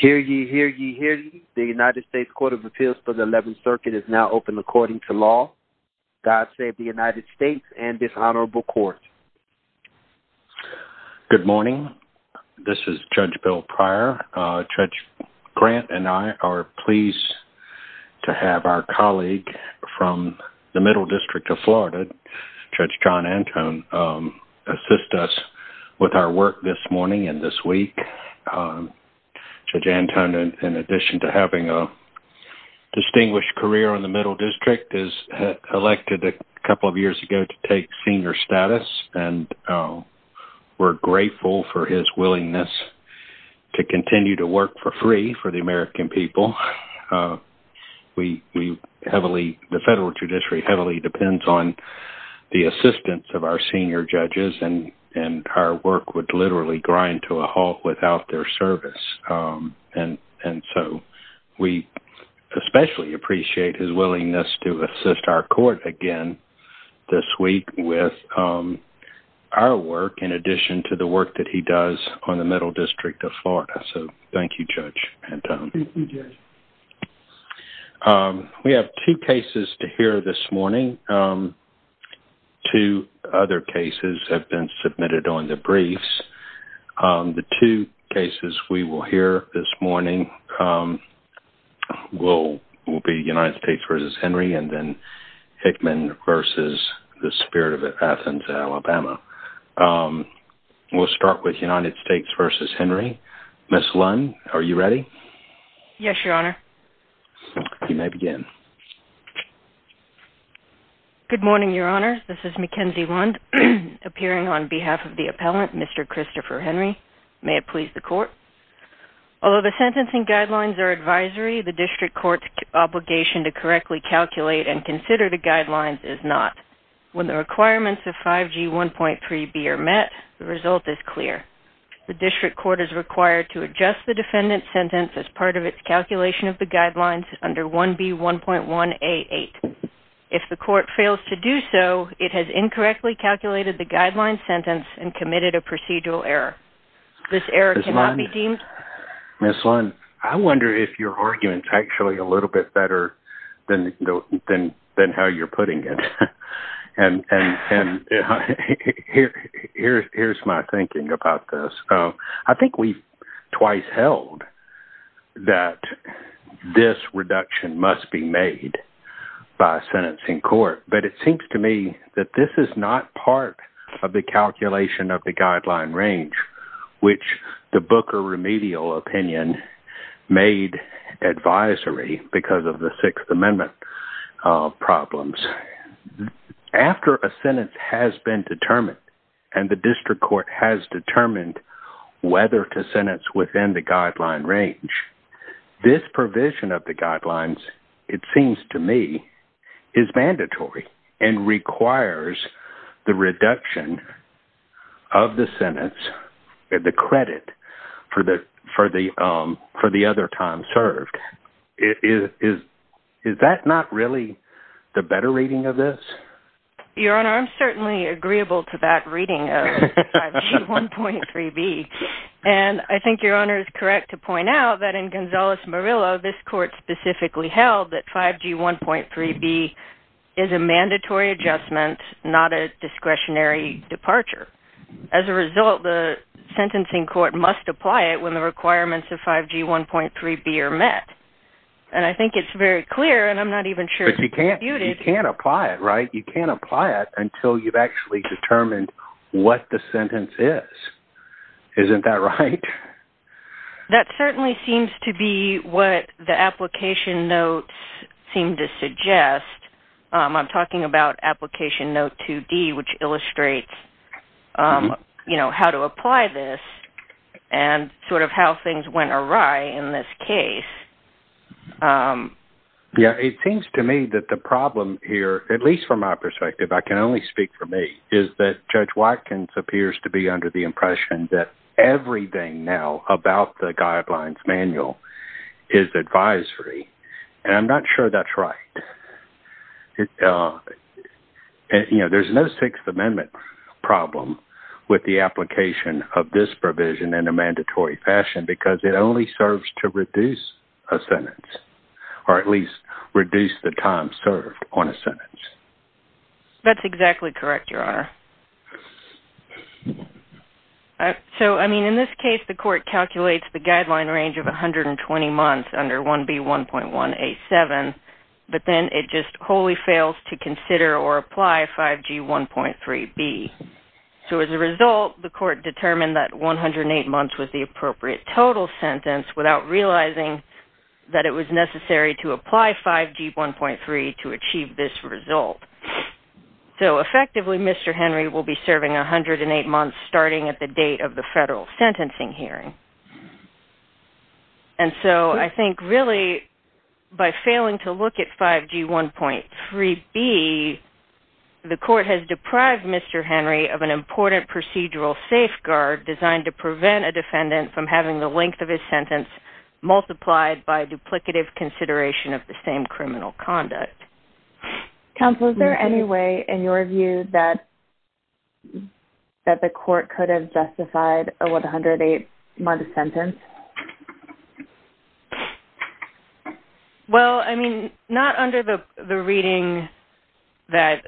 Hear ye, hear ye, hear ye. The United States Court of Appeals for the 11th Circuit is now open according to law. God save the United States and this honorable court. Good morning. This is Judge Bill Pryor. Judge Grant and I are pleased to have our colleague from the Middle District of Florida, Judge John Anton, assist us with our work this morning and this week. Judge Anton, in addition to having a distinguished career in the Middle District, is elected a couple of years ago to take senior status and we're grateful for his willingness to continue to work for free for the American people. The federal judiciary heavily depends on the assistance of our senior judges and our work would literally grind to a halt without their service and so we especially appreciate his willingness to assist our court again this week with our work in addition to the work that he does on the Middle District of Florida. So thank you, Judge Anton. We have two cases to hear this morning. Two other cases have been submitted on the briefs. The two cases we will hear this morning will be United States v. Henry and then Hickman v. The Spirit of Athens, Alabama. We'll start with United States v. Henry. Ms. Lund, are you ready? Yes, Your Honor. You may begin. Good morning, Your Honor. This is Mackenzie Lund appearing on behalf of the appellant, Mr. Christopher Henry. May it please the court? Although the sentencing guidelines are advisory, the district court's obligation to correctly calculate and consider the guidelines is not. When the requirements of 5G 1.3b are met, the result is clear. The district court is required to adjust the defendant's sentence as part of its calculation of the guidelines under 1B 1.1a.8. If the court fails to do so, it has incorrectly calculated the guideline sentence and committed a procedural error. This error cannot be deemed- Ms. Lund, I wonder if your argument is actually a little bit better than how you're putting it. Here's my thinking about this. I think we've twice held that this reduction must be made by a sentencing court, but it seems to me that this is not part of the calculation of the guideline range which the Booker remedial opinion made advisory because of the Sixth Amendment problems. After a sentence has been determined and the district court has determined whether to sentence within the guideline range, this provision of the guidelines, it seems to me, is mandatory and requires the reduction of the sentence, the credit for the other time served. Is that not really the better reading of this? Your Honor, I'm certainly agreeable to that reading of 5G 1.3b. I think Your Honor is correct to point out that in Gonzales-Morillo, this court specifically held that 5G 1.3b is a mandatory adjustment, not a discretionary departure. As a result, the sentencing court must apply it when the requirements of 5G 1.3b are met. I think it's very clear and I'm not even sure- But you can't apply it, right? You can't apply it until you've actually determined what the sentence is. Isn't that right? That certainly seems to be what the application notes seem to suggest. I'm talking about application note 2d, which illustrates how to apply this and sort of how things went awry in this case. Yeah, it seems to me that the problem here, at least from my perspective, I can only speak for me, is that Judge Watkins appears to be under the impression that everything now about the guidelines manual is advisory. I'm not sure that's right. There's no Sixth Amendment problem with the application of this provision in a mandatory fashion because it only serves to reduce a sentence, or at least reduce the time served on a sentence. That's exactly correct, Your Honor. In this case, the court calculates the guideline range of 120 months under 1B 1.187, but then it just wholly fails to consider or apply 5G 1.3b. As a result, the court determined that 108 months was the appropriate total sentence without realizing that it was necessary to apply 5G 1.3 to achieve this result. Effectively, Mr. Henry will be serving 108 months starting at the date of the federal sentencing hearing. And so I think really by failing to look at 5G 1.3b, the court has deprived Mr. Henry of an important procedural safeguard designed to prevent a defendant from having the length of his sentence multiplied by duplicative consideration of the same criminal conduct. Counsel, is there any way in your view that the court could have justified a 108-month sentence? Well, I mean, not under the reading that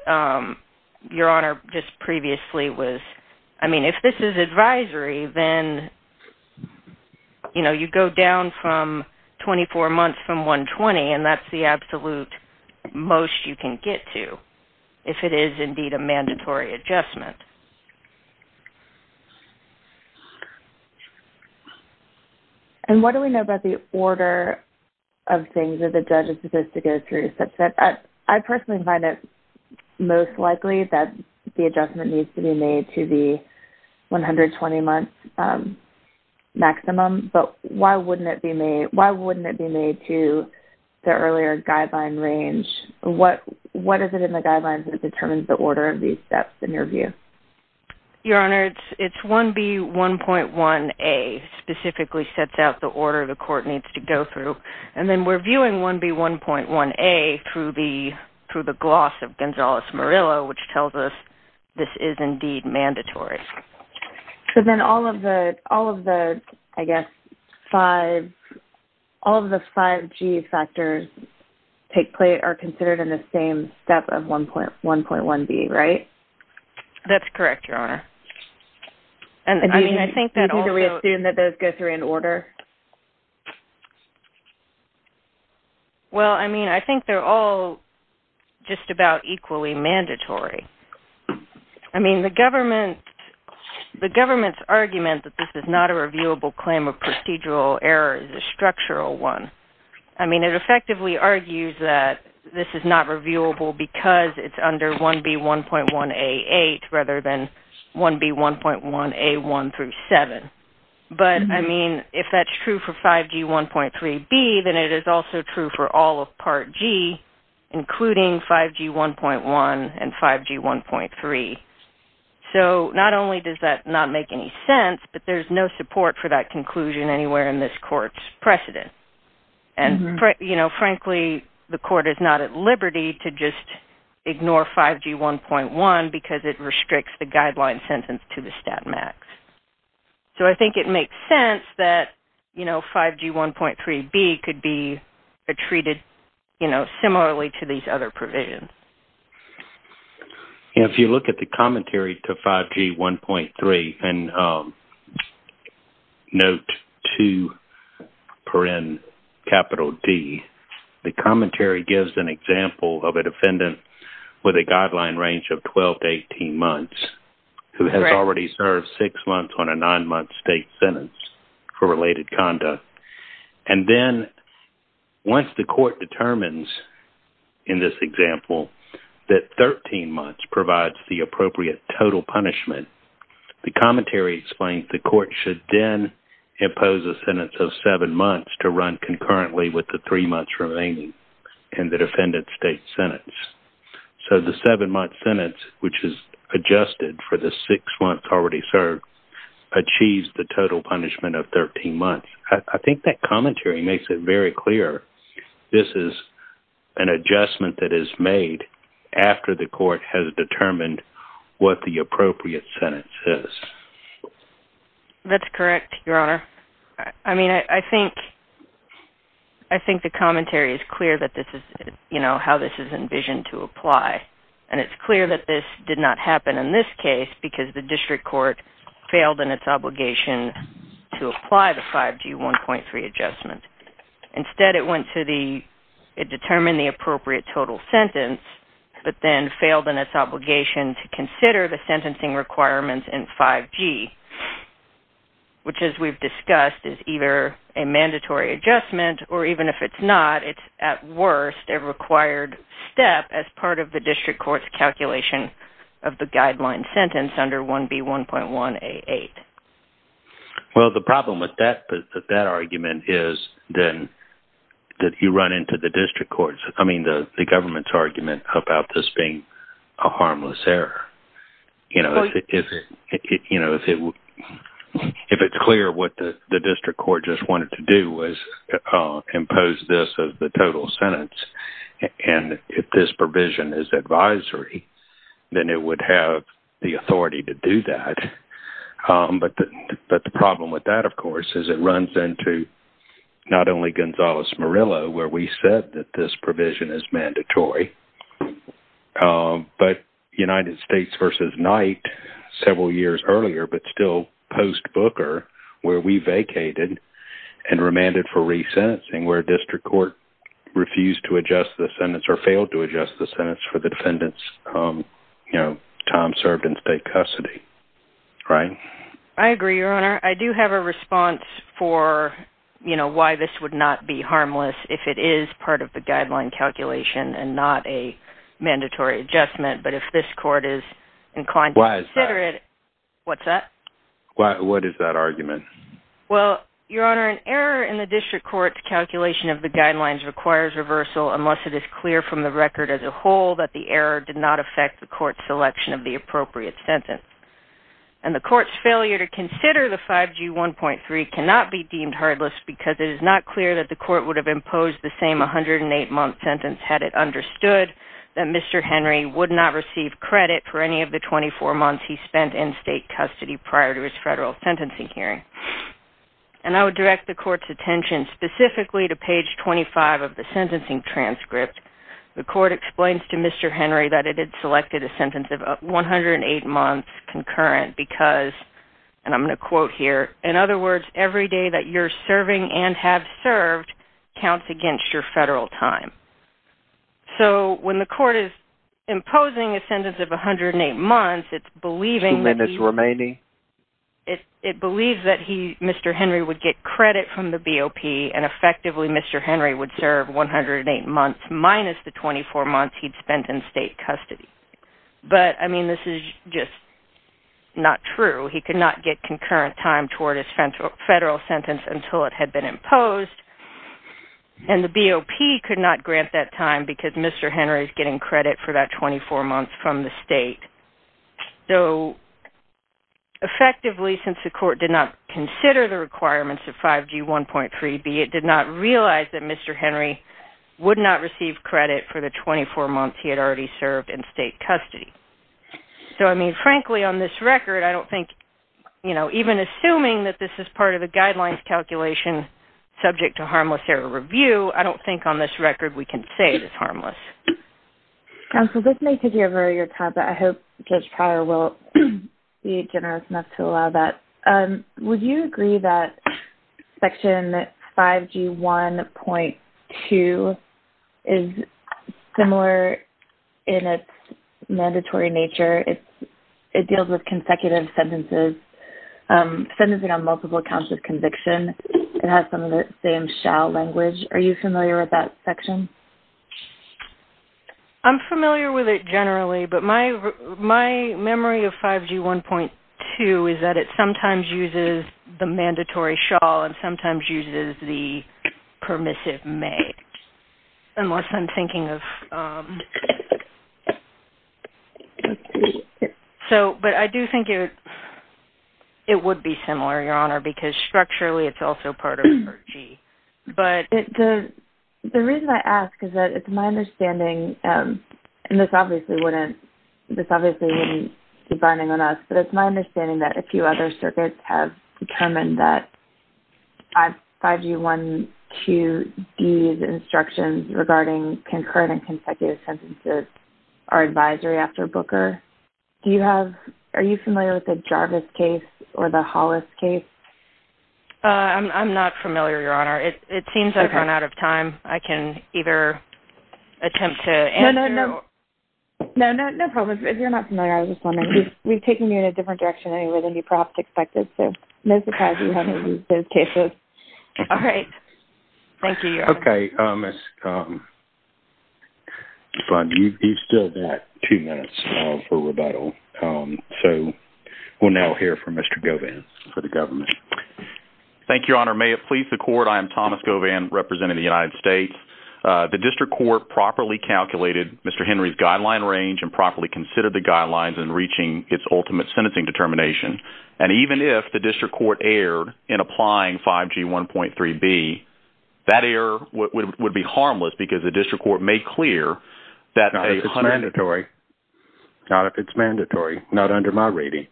Your Honor just previously was. I mean, if this is 24 months from 120, and that's the absolute most you can get to if it is indeed a mandatory adjustment. And what do we know about the order of things that the judge is supposed to go through such that I personally find it most likely that the adjustment needs to be made to the earlier guideline range? What is it in the guidelines that determines the order of these steps in your view? Your Honor, it's 1B1.1a specifically sets out the order the court needs to go through. And then we're viewing 1B1.1a through the gloss of Gonzales-Morillo, which tells us this is indeed mandatory. So then all of the, I guess, all of the 5G factors are considered in the same step of 1.1B, right? That's correct, Your Honor. And do we assume that those go through in order? Well, I mean, I think they're all just about equally mandatory. I mean, the government's argument that this is not a reviewable claim of procedural error is a structural one. I mean, it effectively argues that this is not reviewable because it's under 1B1.1a8 rather than 1B1.1a1 7. But I mean, if that's true for 5G1.3b, then it is also true for all of Part G, including 5G1.1 and 5G1.3. So not only does that not make any sense, but there's no support for that conclusion anywhere in this court's precedent. And frankly, the court is not at liberty to just So I think it makes sense that, you know, 5G1.3b could be treated, you know, similarly to these other provisions. If you look at the commentary to 5G1.3 in Note 2, capital D, the commentary gives an example of a defendant with a guideline range of 12 to 18 months who has already served six months on a nine-month state sentence for related conduct. And then once the court determines, in this example, that 13 months provides the appropriate total punishment, the commentary explains the court should then impose a sentence of seven months to run concurrently with the three months remaining in the defendant's state sentence. So the seven-month sentence, which is adjusted for the six months already served, achieves the total punishment of 13 months. I think that commentary makes it very clear this is an adjustment that is made after the court has determined what the appropriate sentence is. That's correct, Your Honor. I mean, I think the commentary is clear that this is, you know, how this is envisioned to apply. And it's clear that this did not happen in this case because the district court failed in its obligation to apply the 5G1.3 adjustment. Instead, it went to the, it determined the appropriate total sentence, but then failed in its obligation to consider the sentencing requirements in 5G, which, as we've discussed, is either a mandatory adjustment, or even if it's not, it's, at worst, a required step as part of the district court's calculation of the guideline sentence under 1B1.1A8. Well, the problem with that argument is then that you run into the district court's, I mean, the government's argument about this being a harmless error. You know, if it's clear what the district court just wanted to do was impose this as the total sentence, and if this provision is advisory, then it would have the authority to do that. But the problem with that, of course, is it runs into not only Gonzales-Murillo, where we said that this provision is mandatory, but United States v. Knight several years earlier, but still post-Booker, where we vacated and remanded for resentencing, where district court refused to adjust the sentence or failed to adjust the sentence for the defendants, you know, Tom served in state custody, right? I agree, Your Honor. I do have a response for, you know, why this would not be harmless if it is part of the guideline calculation and not a mandatory adjustment, but if this court is inclined to consider it, what's that? What is that argument? Well, Your Honor, an error in the district court's calculation of the guidelines requires reversal unless it is clear from the record as a whole that the error did not affect the court's selection of the appropriate sentence. And the court's failure to consider the 5G 1.3 cannot be deemed harmless because it is not clear that the court would have imposed the same 108-month sentence had it understood that Mr. Henry would not receive credit for any of the 24 months he spent in state custody prior to his federal sentencing hearing. And I would direct the court's attention specifically to page 25 of the sentencing transcript. The court explains to Mr. Henry that it had selected a sentence of 108 months concurrent because, and I'm going to quote here, in other words, every day that you're serving and have served counts against your federal time. So when the court is imposing a sentence of 108 months, it's believing that he's... Two minutes remaining. It believes that Mr. Henry would get credit from the BOP and effectively Mr. Henry would serve 108 months minus the 24 months he'd spent in state custody. But, I mean, this is just not true. He could not get concurrent time toward his federal sentence until it had been imposed. And the BOP could not grant that time because Mr. Henry's getting credit for that 24 months from the state. So effectively, since the court did not consider the requirements of 5G1.3b, it did not realize that Mr. Henry would not receive credit for the 24 months he had already served in state custody. So, I mean, frankly, on this record, I don't think, you know, even assuming that this is part of the guidelines calculation subject to harmless error review, I don't think on this record we can say it's harmless. Counsel, this may take over your time, but I hope Judge Pryor will be generous enough to allow that. Would you agree that Section 5G1.2 is similar in its mandatory nature? It deals with consecutive sentences, sentencing on multiple counts of conviction. It has some of the same language. Are you familiar with that section? I'm familiar with it generally, but my memory of 5G1.2 is that it sometimes uses the mandatory shawl and sometimes uses the permissive may, unless I'm thinking of... So, but I do think it would be similar, Your Honor, because structurally it's also part of 5G, but... The reason I ask is that it's my understanding, and this obviously wouldn't, this obviously wouldn't be binding on us, but it's my understanding that a few other circuits have determined that 5G1.2D's instructions regarding concurrent and consecutive sentences are advisory after Booker. Do you have, are you familiar with Jarvis' case or the Hollis' case? I'm not familiar, Your Honor. It seems I've run out of time. I can either attempt to answer... No, no, no. No, no, no problem. If you're not familiar, I was just wondering. We've taken you in a different direction anyway than you perhaps expected, so no surprise you haven't used those cases. All right. Thank you, Your Honor. Okay. Mr. Fudd, you've still got two minutes for rebuttal, so we'll now hear from Mr. Govan for the government. Thank you, Your Honor. May it please the court, I am Thomas Govan, representing the United States. The district court properly calculated Mr. Henry's guideline range and properly considered the guidelines in reaching its ultimate sentencing determination, and even if the district court erred in applying 5G1.3B, that error would be harmless because the district court made clear that... Not if it's mandatory. Not if it's mandatory. Not under my reading.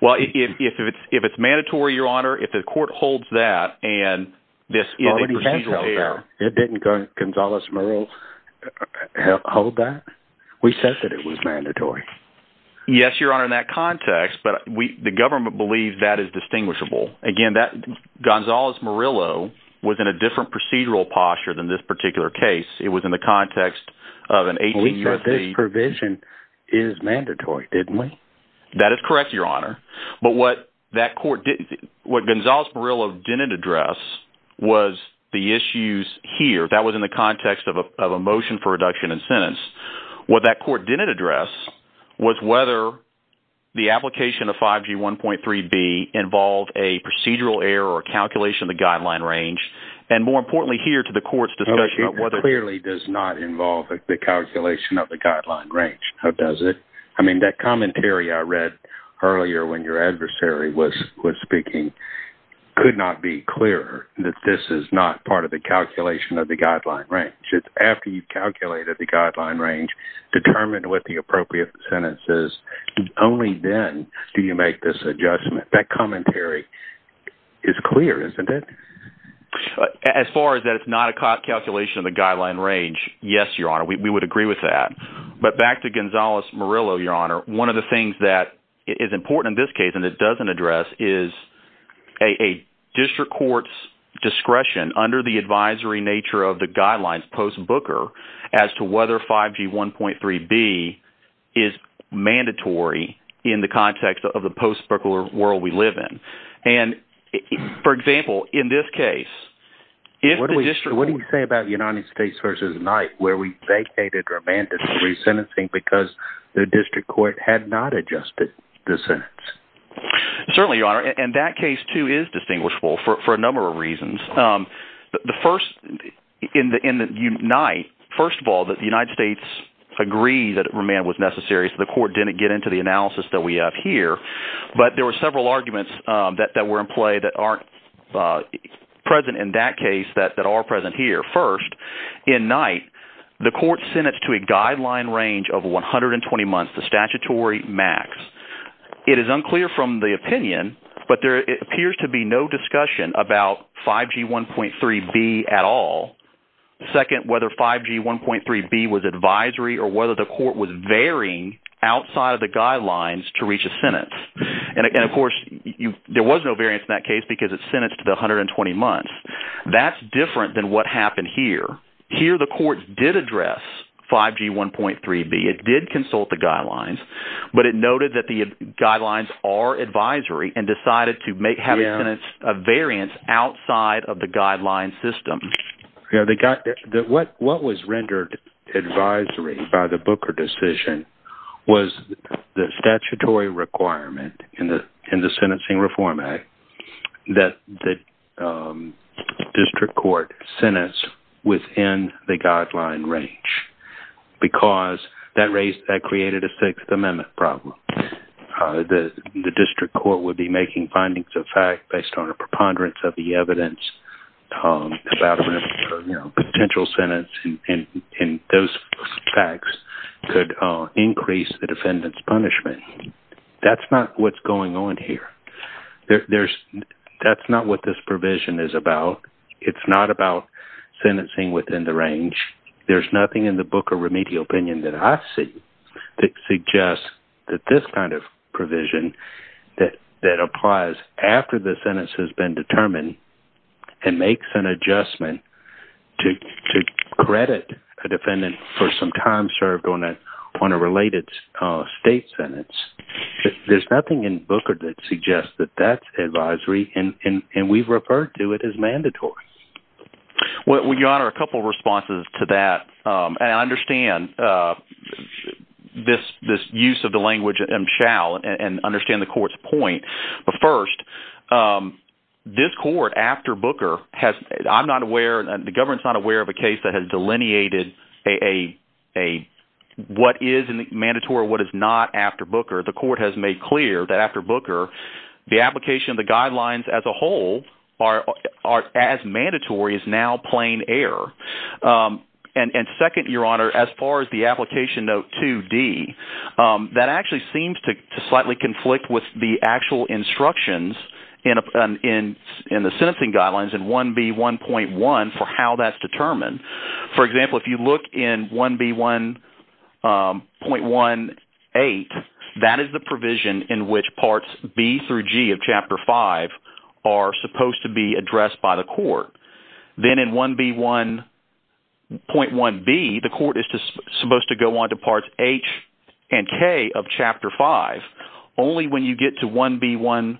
Well, if it's mandatory, Your Honor, if the court holds that and this is a procedural error... It didn't go, Gonzales-Merrill hold that. We said that it was mandatory. Yes, Your Honor, in that context, but the government believes that is distinguishable. Again, Gonzales-Merrill was in a different procedural posture than this particular case. It was in the context of an 18-year... We said this provision is mandatory, didn't we? That is correct, Your Honor, but what Gonzales-Merrill didn't address was the issues here. That was in the context of a motion for reduction in sentence. What that court didn't address was whether the application of 5G1.3B involved a procedural error or calculation of the guideline range, and more importantly here to the court's discussion of whether... Clearly does not involve the calculation of the guideline range, does it? I mean, that commentary I read earlier when your adversary was speaking could not be clearer that this is not part of the calculation of the guideline range. It's after you've calculated the guideline range, determined what the appropriate sentence is, only then do you make this adjustment. That commentary is clear, isn't it? As far as that it's not a calculation of the guideline range, yes, Your Honor, we would agree with that, but back to Gonzales-Merrill, Your Honor, one of the things that is important in this case and it doesn't address is a district court's discretion under the advisory nature of the guidelines post-Booker as to whether 5G1.3B is mandatory in the context of the post-Booker world we live in. For example, in this case... What do you say about United States v. Knight where we vacated our mandatory sentencing because the district court had not adjusted the sentence? Certainly, Your Honor, and that case too is distinguishable for a number of reasons. The first, in the Knight, first of all, the United States agreed that remand was necessary, so the court didn't get into the analysis that we have here, but there were several arguments that were in play that aren't present in that case that are present here. First, in Knight, the court sentenced to a guideline range of 120 months, the statutory max. It is unclear from the opinion, but there appears to be no discussion about 5G1.3B at all. Second, whether 5G1.3B was advisory or whether the court was varying outside of the guidelines to reach a sentence, and of course, there was no variance in that case because it's sentenced to 120 months. That's different than what happened here. Here, the court did address 5G1.3B. It did consult the guidelines, but it noted that the guidelines are advisory and decided to have a variance outside of the guideline system. What was rendered advisory by the Booker decision was the statutory requirement in the Sentencing Reform Act that the district court sentence within the guideline range because that created a Sixth Amendment problem. The district court would be making findings of fact based on a preponderance of the evidence about a potential sentence and those facts could increase the defendant's punishment. That's not what's going on here. That's not what this provision is about. It's not about sentencing within the range. There's nothing in the Booker Remedial Opinion that I see that suggests that this kind of provision that applies after the sentence has been determined and makes an adjustment to credit a defendant for some time served on a related state sentence. There's nothing in Booker that suggests that that's advisory and we've referred to it as mandatory. Your Honor, a couple of responses to that. I understand this use of the language and shall understand the court's point. First, the government is not aware of a case that has delineated what is mandatory and what is not after Booker. The court has made clear that after Booker, the application of the guidelines as a whole as mandatory is now plain error. And second, Your Honor, as far as the application note 2D, that actually seems to slightly conflict with the actual instructions in the sentencing guidelines in 1B1.1 for how that's determined. For example, if you look in 1B1.18, that is the provision in which parts B through G of Chapter 5 are supposed to be addressed by the court. Then in 1B1.1B, the court is supposed to go on to parts H and K of Chapter 5. Only when you get to 1B1.1C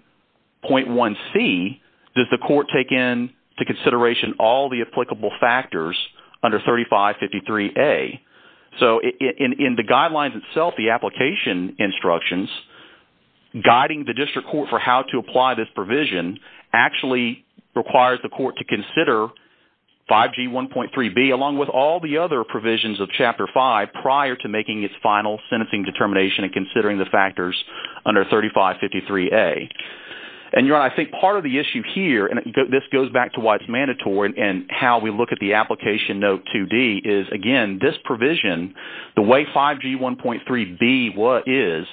does the court take into consideration all the applicable factors under 3553A. So in the guidelines itself, the application instructions guiding the district court for how to apply this provision actually requires the court to consider 5G1.3B along with all the other provisions of Chapter 5 prior to making its final sentencing determination and considering the factors under 3553A. And Your Honor, I think part of the issue here, and this goes back to why it's mandatory and how we look at the application note 2D, is again, this provision, the way 5G1.3B is,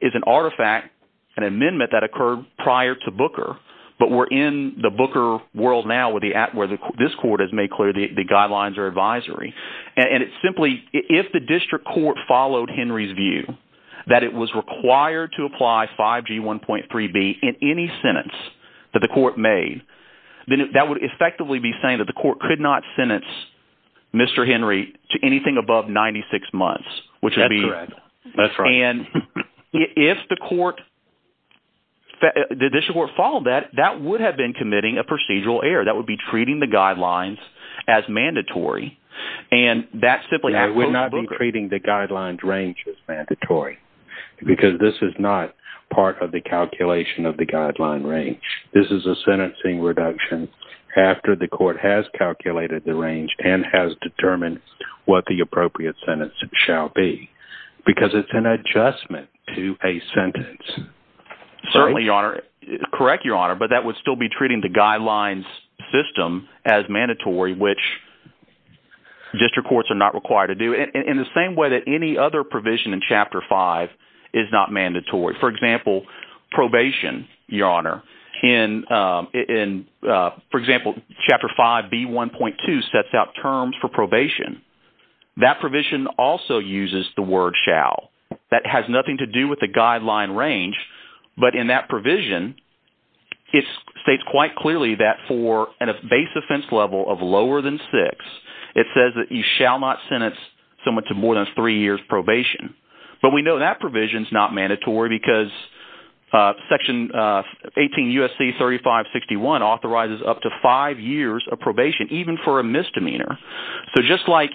is an artifact, an amendment that occurred prior to Booker, but we're in the Booker world now where this court has made clear the guidelines or advisory. And it's simply, if the district court followed Henry's view that it was required to apply 5G1.3B in any sentence that the court made, then that would effectively be saying that the anything above 96 months, which would be... That's correct. That's right. And if the court, the district court followed that, that would have been committing a procedural error. That would be treating the guidelines as mandatory. And that simply... I would not be treating the guidelines range as mandatory because this is not part of the calculation of the guideline range. This is a sentencing reduction after the court has calculated the range and has determined what the appropriate sentence shall be, because it's an adjustment to a sentence. Certainly, Your Honor. Correct, Your Honor. But that would still be treating the guidelines system as mandatory, which district courts are not required to do in the same way that any other provision in Chapter 5 is not mandatory. For example, probation, Your Honor. In, for example, Chapter 5B1.2 sets out terms for probation. That provision also uses the word shall. That has nothing to do with the guideline range. But in that provision, it states quite clearly that for a base offense level of lower than six, it says that you shall not sentence someone to more than three years probation. But we know that provision's not mandatory because Section 18 U.S.C. 3561 authorizes up to five years of probation, even for a misdemeanor. So just like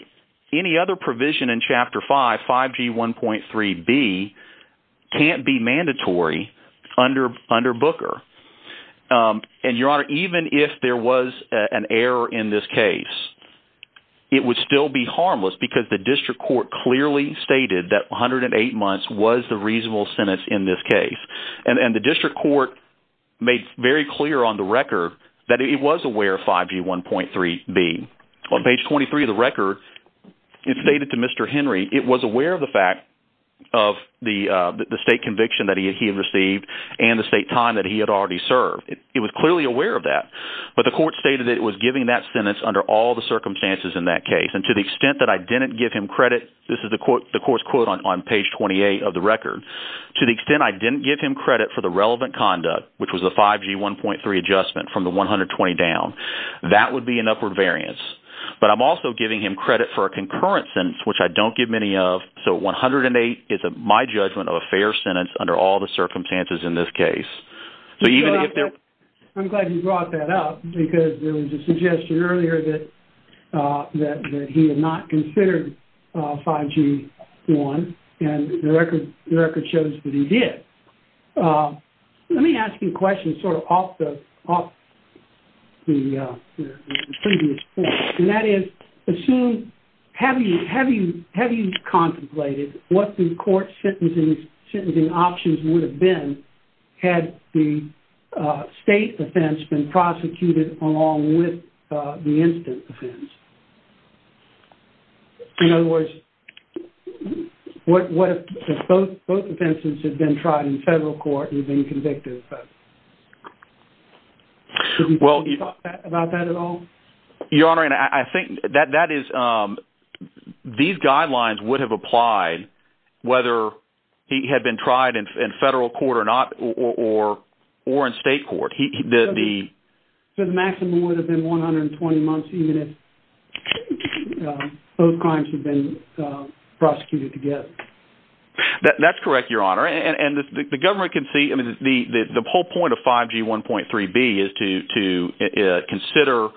any other provision in Chapter 5, 5G1.3b can't be mandatory under Booker. And Your Honor, even if there was an error in this case, it would still be harmless because the district court clearly stated that 108 months was the reasonable sentence in this case. And the district court made very clear on the record that it was aware of 5G1.3b. On page 23 of the record, it stated to Mr. Henry, it was aware of the fact of the state conviction that he had received and the state time that he had already served. It was clearly aware of that. But the court stated that it was giving that sentence under all the circumstances in that case. And to the extent that I didn't give him credit, this is the court's quote on page 28 of the record, to the extent I didn't give him credit for the relevant conduct, which was the 5G1.3 adjustment from the 120 down, that would be an upward variance. But I'm also giving him credit for a concurrent sentence, which I don't give many of. So 108 is my judgment of a fair sentence under all the circumstances in this case. I'm glad you brought that up because there was a suggestion earlier that he had not considered 5G1. And the record shows that he did. Let me ask you a question sort of off the previous point. And that is, have you contemplated what the court sentencing options would have been had the state offense been prosecuted along with the incident offense? In other words, what if both offenses had been tried in federal court and been convicted of both? Have you thought about that at all? Your Honor, these guidelines would have applied whether he had been tried in federal court or not, or in state court. So the maximum would have been 120 months, even if both crimes had been prosecuted together. That's correct, Your Honor. And the government can see, I mean, the whole point of 5G1.3b is to consider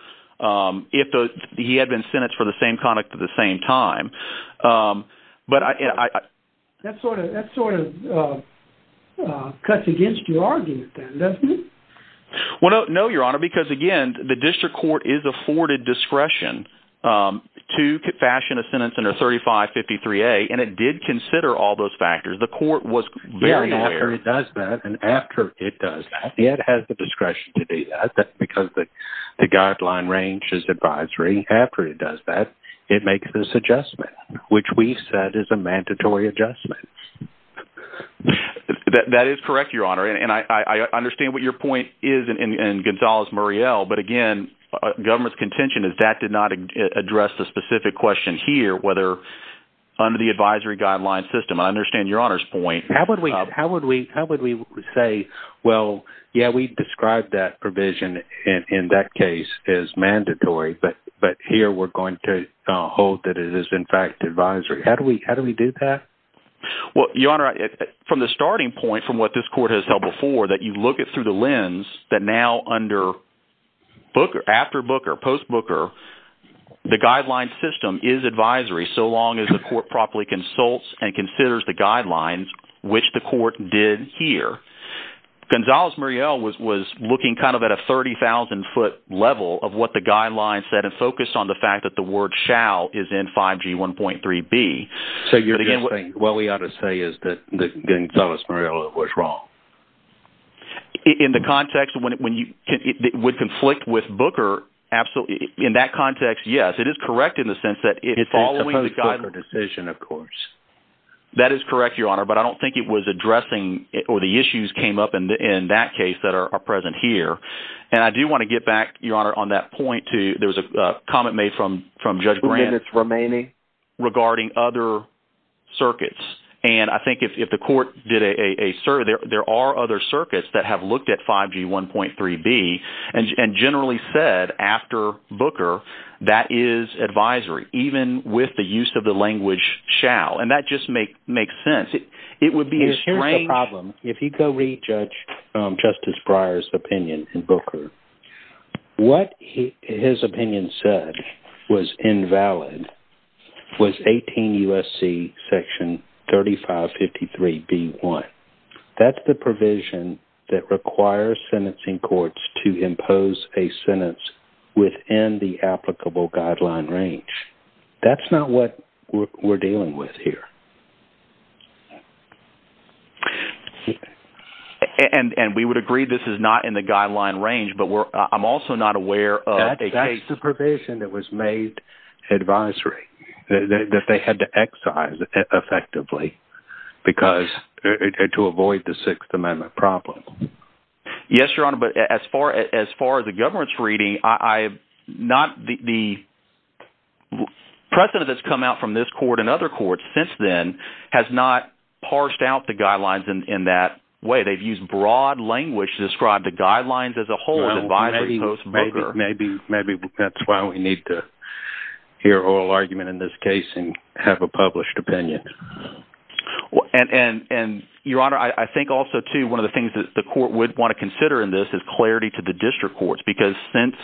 if he had been sentenced for the same conduct at the same time. That sort of cuts against your argument then, doesn't it? Well, no, Your Honor, because again, the district court is afforded discretion to fashion a sentence under 3553A, and it did consider all those factors. The court was very aware. Yeah, and after it does that, and after it does that, it has the discretion to do that because the guideline ranges advisory. After it does that, it makes this adjustment, which we said is a mandatory adjustment. That is correct, Your Honor. And I understand what your point is in Gonzales-Muriel, but again, government's contention is that did not address the specific question here, whether under the advisory guideline system. I understand Your Honor's point. How would we say, well, yeah, we described that provision in that case as mandatory, but here we're going to hold that it is, in fact, advisory. How do we do that? Well, Your Honor, from the starting point, from what this court has held before, that you look at it through the lens that now after Booker, post-Booker, the guideline system is advisory so long as the court properly consults and considers the guidelines, which the court did here. Gonzales-Muriel was looking kind of at a 30,000-foot level of what the guidelines said and focused on the fact that the word shall is in 5G 1.3b. So you're just saying what we ought to say is that Gonzales-Muriel was wrong? In the context when it would conflict with Booker, absolutely, in that context, yes, it is correct in the sense that it's following the guidelines. It's a post-Booker decision, of course. That is correct, Your Honor, but I don't think it was addressing or the issues came up in that case that are present here. And I do want to get back, Your Honor, on that point to, there was a comment made from Judge Grant. Who did it's remaining? Regarding other circuits. And I think if the court did a survey, there are other circuits that have looked at 5G 1.3b and generally said after Booker, that is advisory, even with the use of the language shall. And that just makes sense. It would be a strange... Here's the problem. If you go read Justice Breyer's opinion in Booker, what his opinion said was invalid was 18 U.S.C. section 3553b.1. That's the provision that requires sentencing courts to in the applicable guideline range. That's not what we're dealing with here. And we would agree this is not in the guideline range, but I'm also not aware of a case... That's the provision that was made advisory, that they had to excise effectively to avoid the Sixth Amendment problem. Yes, Your Honor, but as far as the government's reading, the precedent that's come out from this court and other courts since then has not parsed out the guidelines in that way. They've used broad language to describe the guidelines as a whole as advisory post Booker. Maybe that's why we need to hear oral argument in this case and have a published opinion. And Your Honor, I think also too one of the things the court would want to consider in this is clarity to the district courts, because since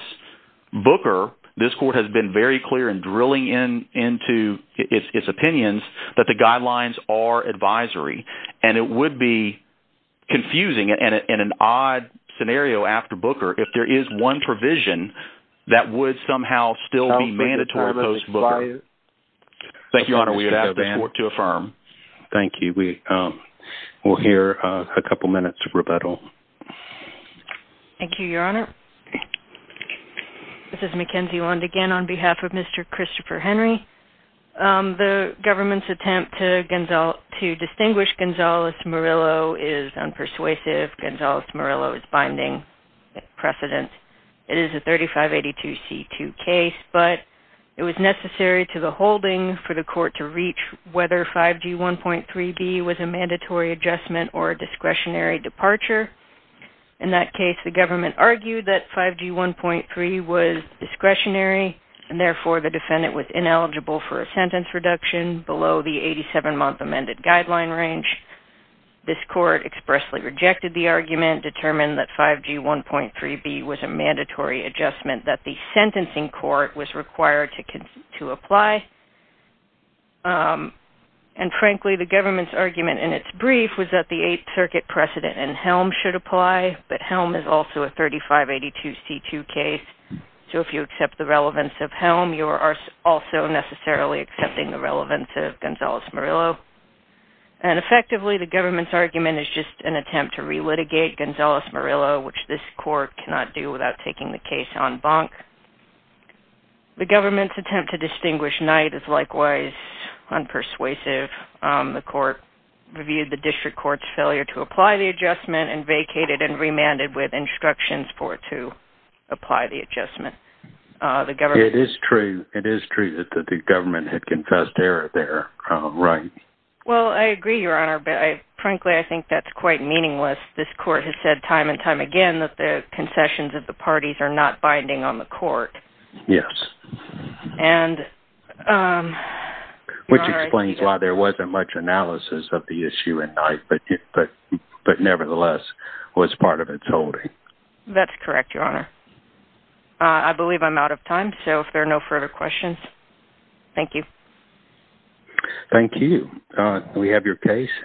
Booker, this court has been very clear in drilling into its opinions that the guidelines are advisory and it would be confusing in an odd scenario after Booker if there is one provision that would somehow still be mandatory post Booker. Thank you, Your Honor, we have the court to affirm. Thank you. We will hear a couple minutes of rebuttal. Thank you, Your Honor. This is Mackenzie Wand again on behalf of Mr. Christopher Henry. The government's attempt to distinguish Gonzales Murillo is unpersuasive. Gonzales Murillo is binding precedent. It is a 3582 C2 case, but it was necessary to the holding for the court to reach whether 5G1.3b was a mandatory adjustment or discretionary departure. In that case, the government argued that 5G1.3 was discretionary and therefore the defendant was ineligible for a sentence reduction below the 87-month amended guideline range. This court expressly rejected the argument, determined that 5G1.3b was a mandatory adjustment that the sentencing court was required to apply. And frankly, the government's argument in its brief was that the Eighth Circuit precedent in Helm should apply, but Helm is also a 3582 C2 case. So if you accept the relevance of Helm, you are also necessarily accepting the relevance of Gonzales Murillo. And effectively, the government's argument is just an attempt to relitigate Gonzales Murillo, which this court cannot do without taking the case en banc. The government's attempt to distinguish Knight is likewise unpersuasive. The court reviewed the district court's failure to apply the adjustment and vacated and remanded with instructions for it to apply the adjustment. It is true that the government had confessed error there, right? Well, I agree, Your Honor, but frankly, I think that's quite meaningless. This court has said time and time again that the concessions of the parties are not binding on the court. Yes. Which explains why there wasn't much analysis of the issue in Knight, but nevertheless was part of its holding. That's correct, Your Honor. I believe I'm out of time, so if there are no further questions, thank you. Thank you. We have your case.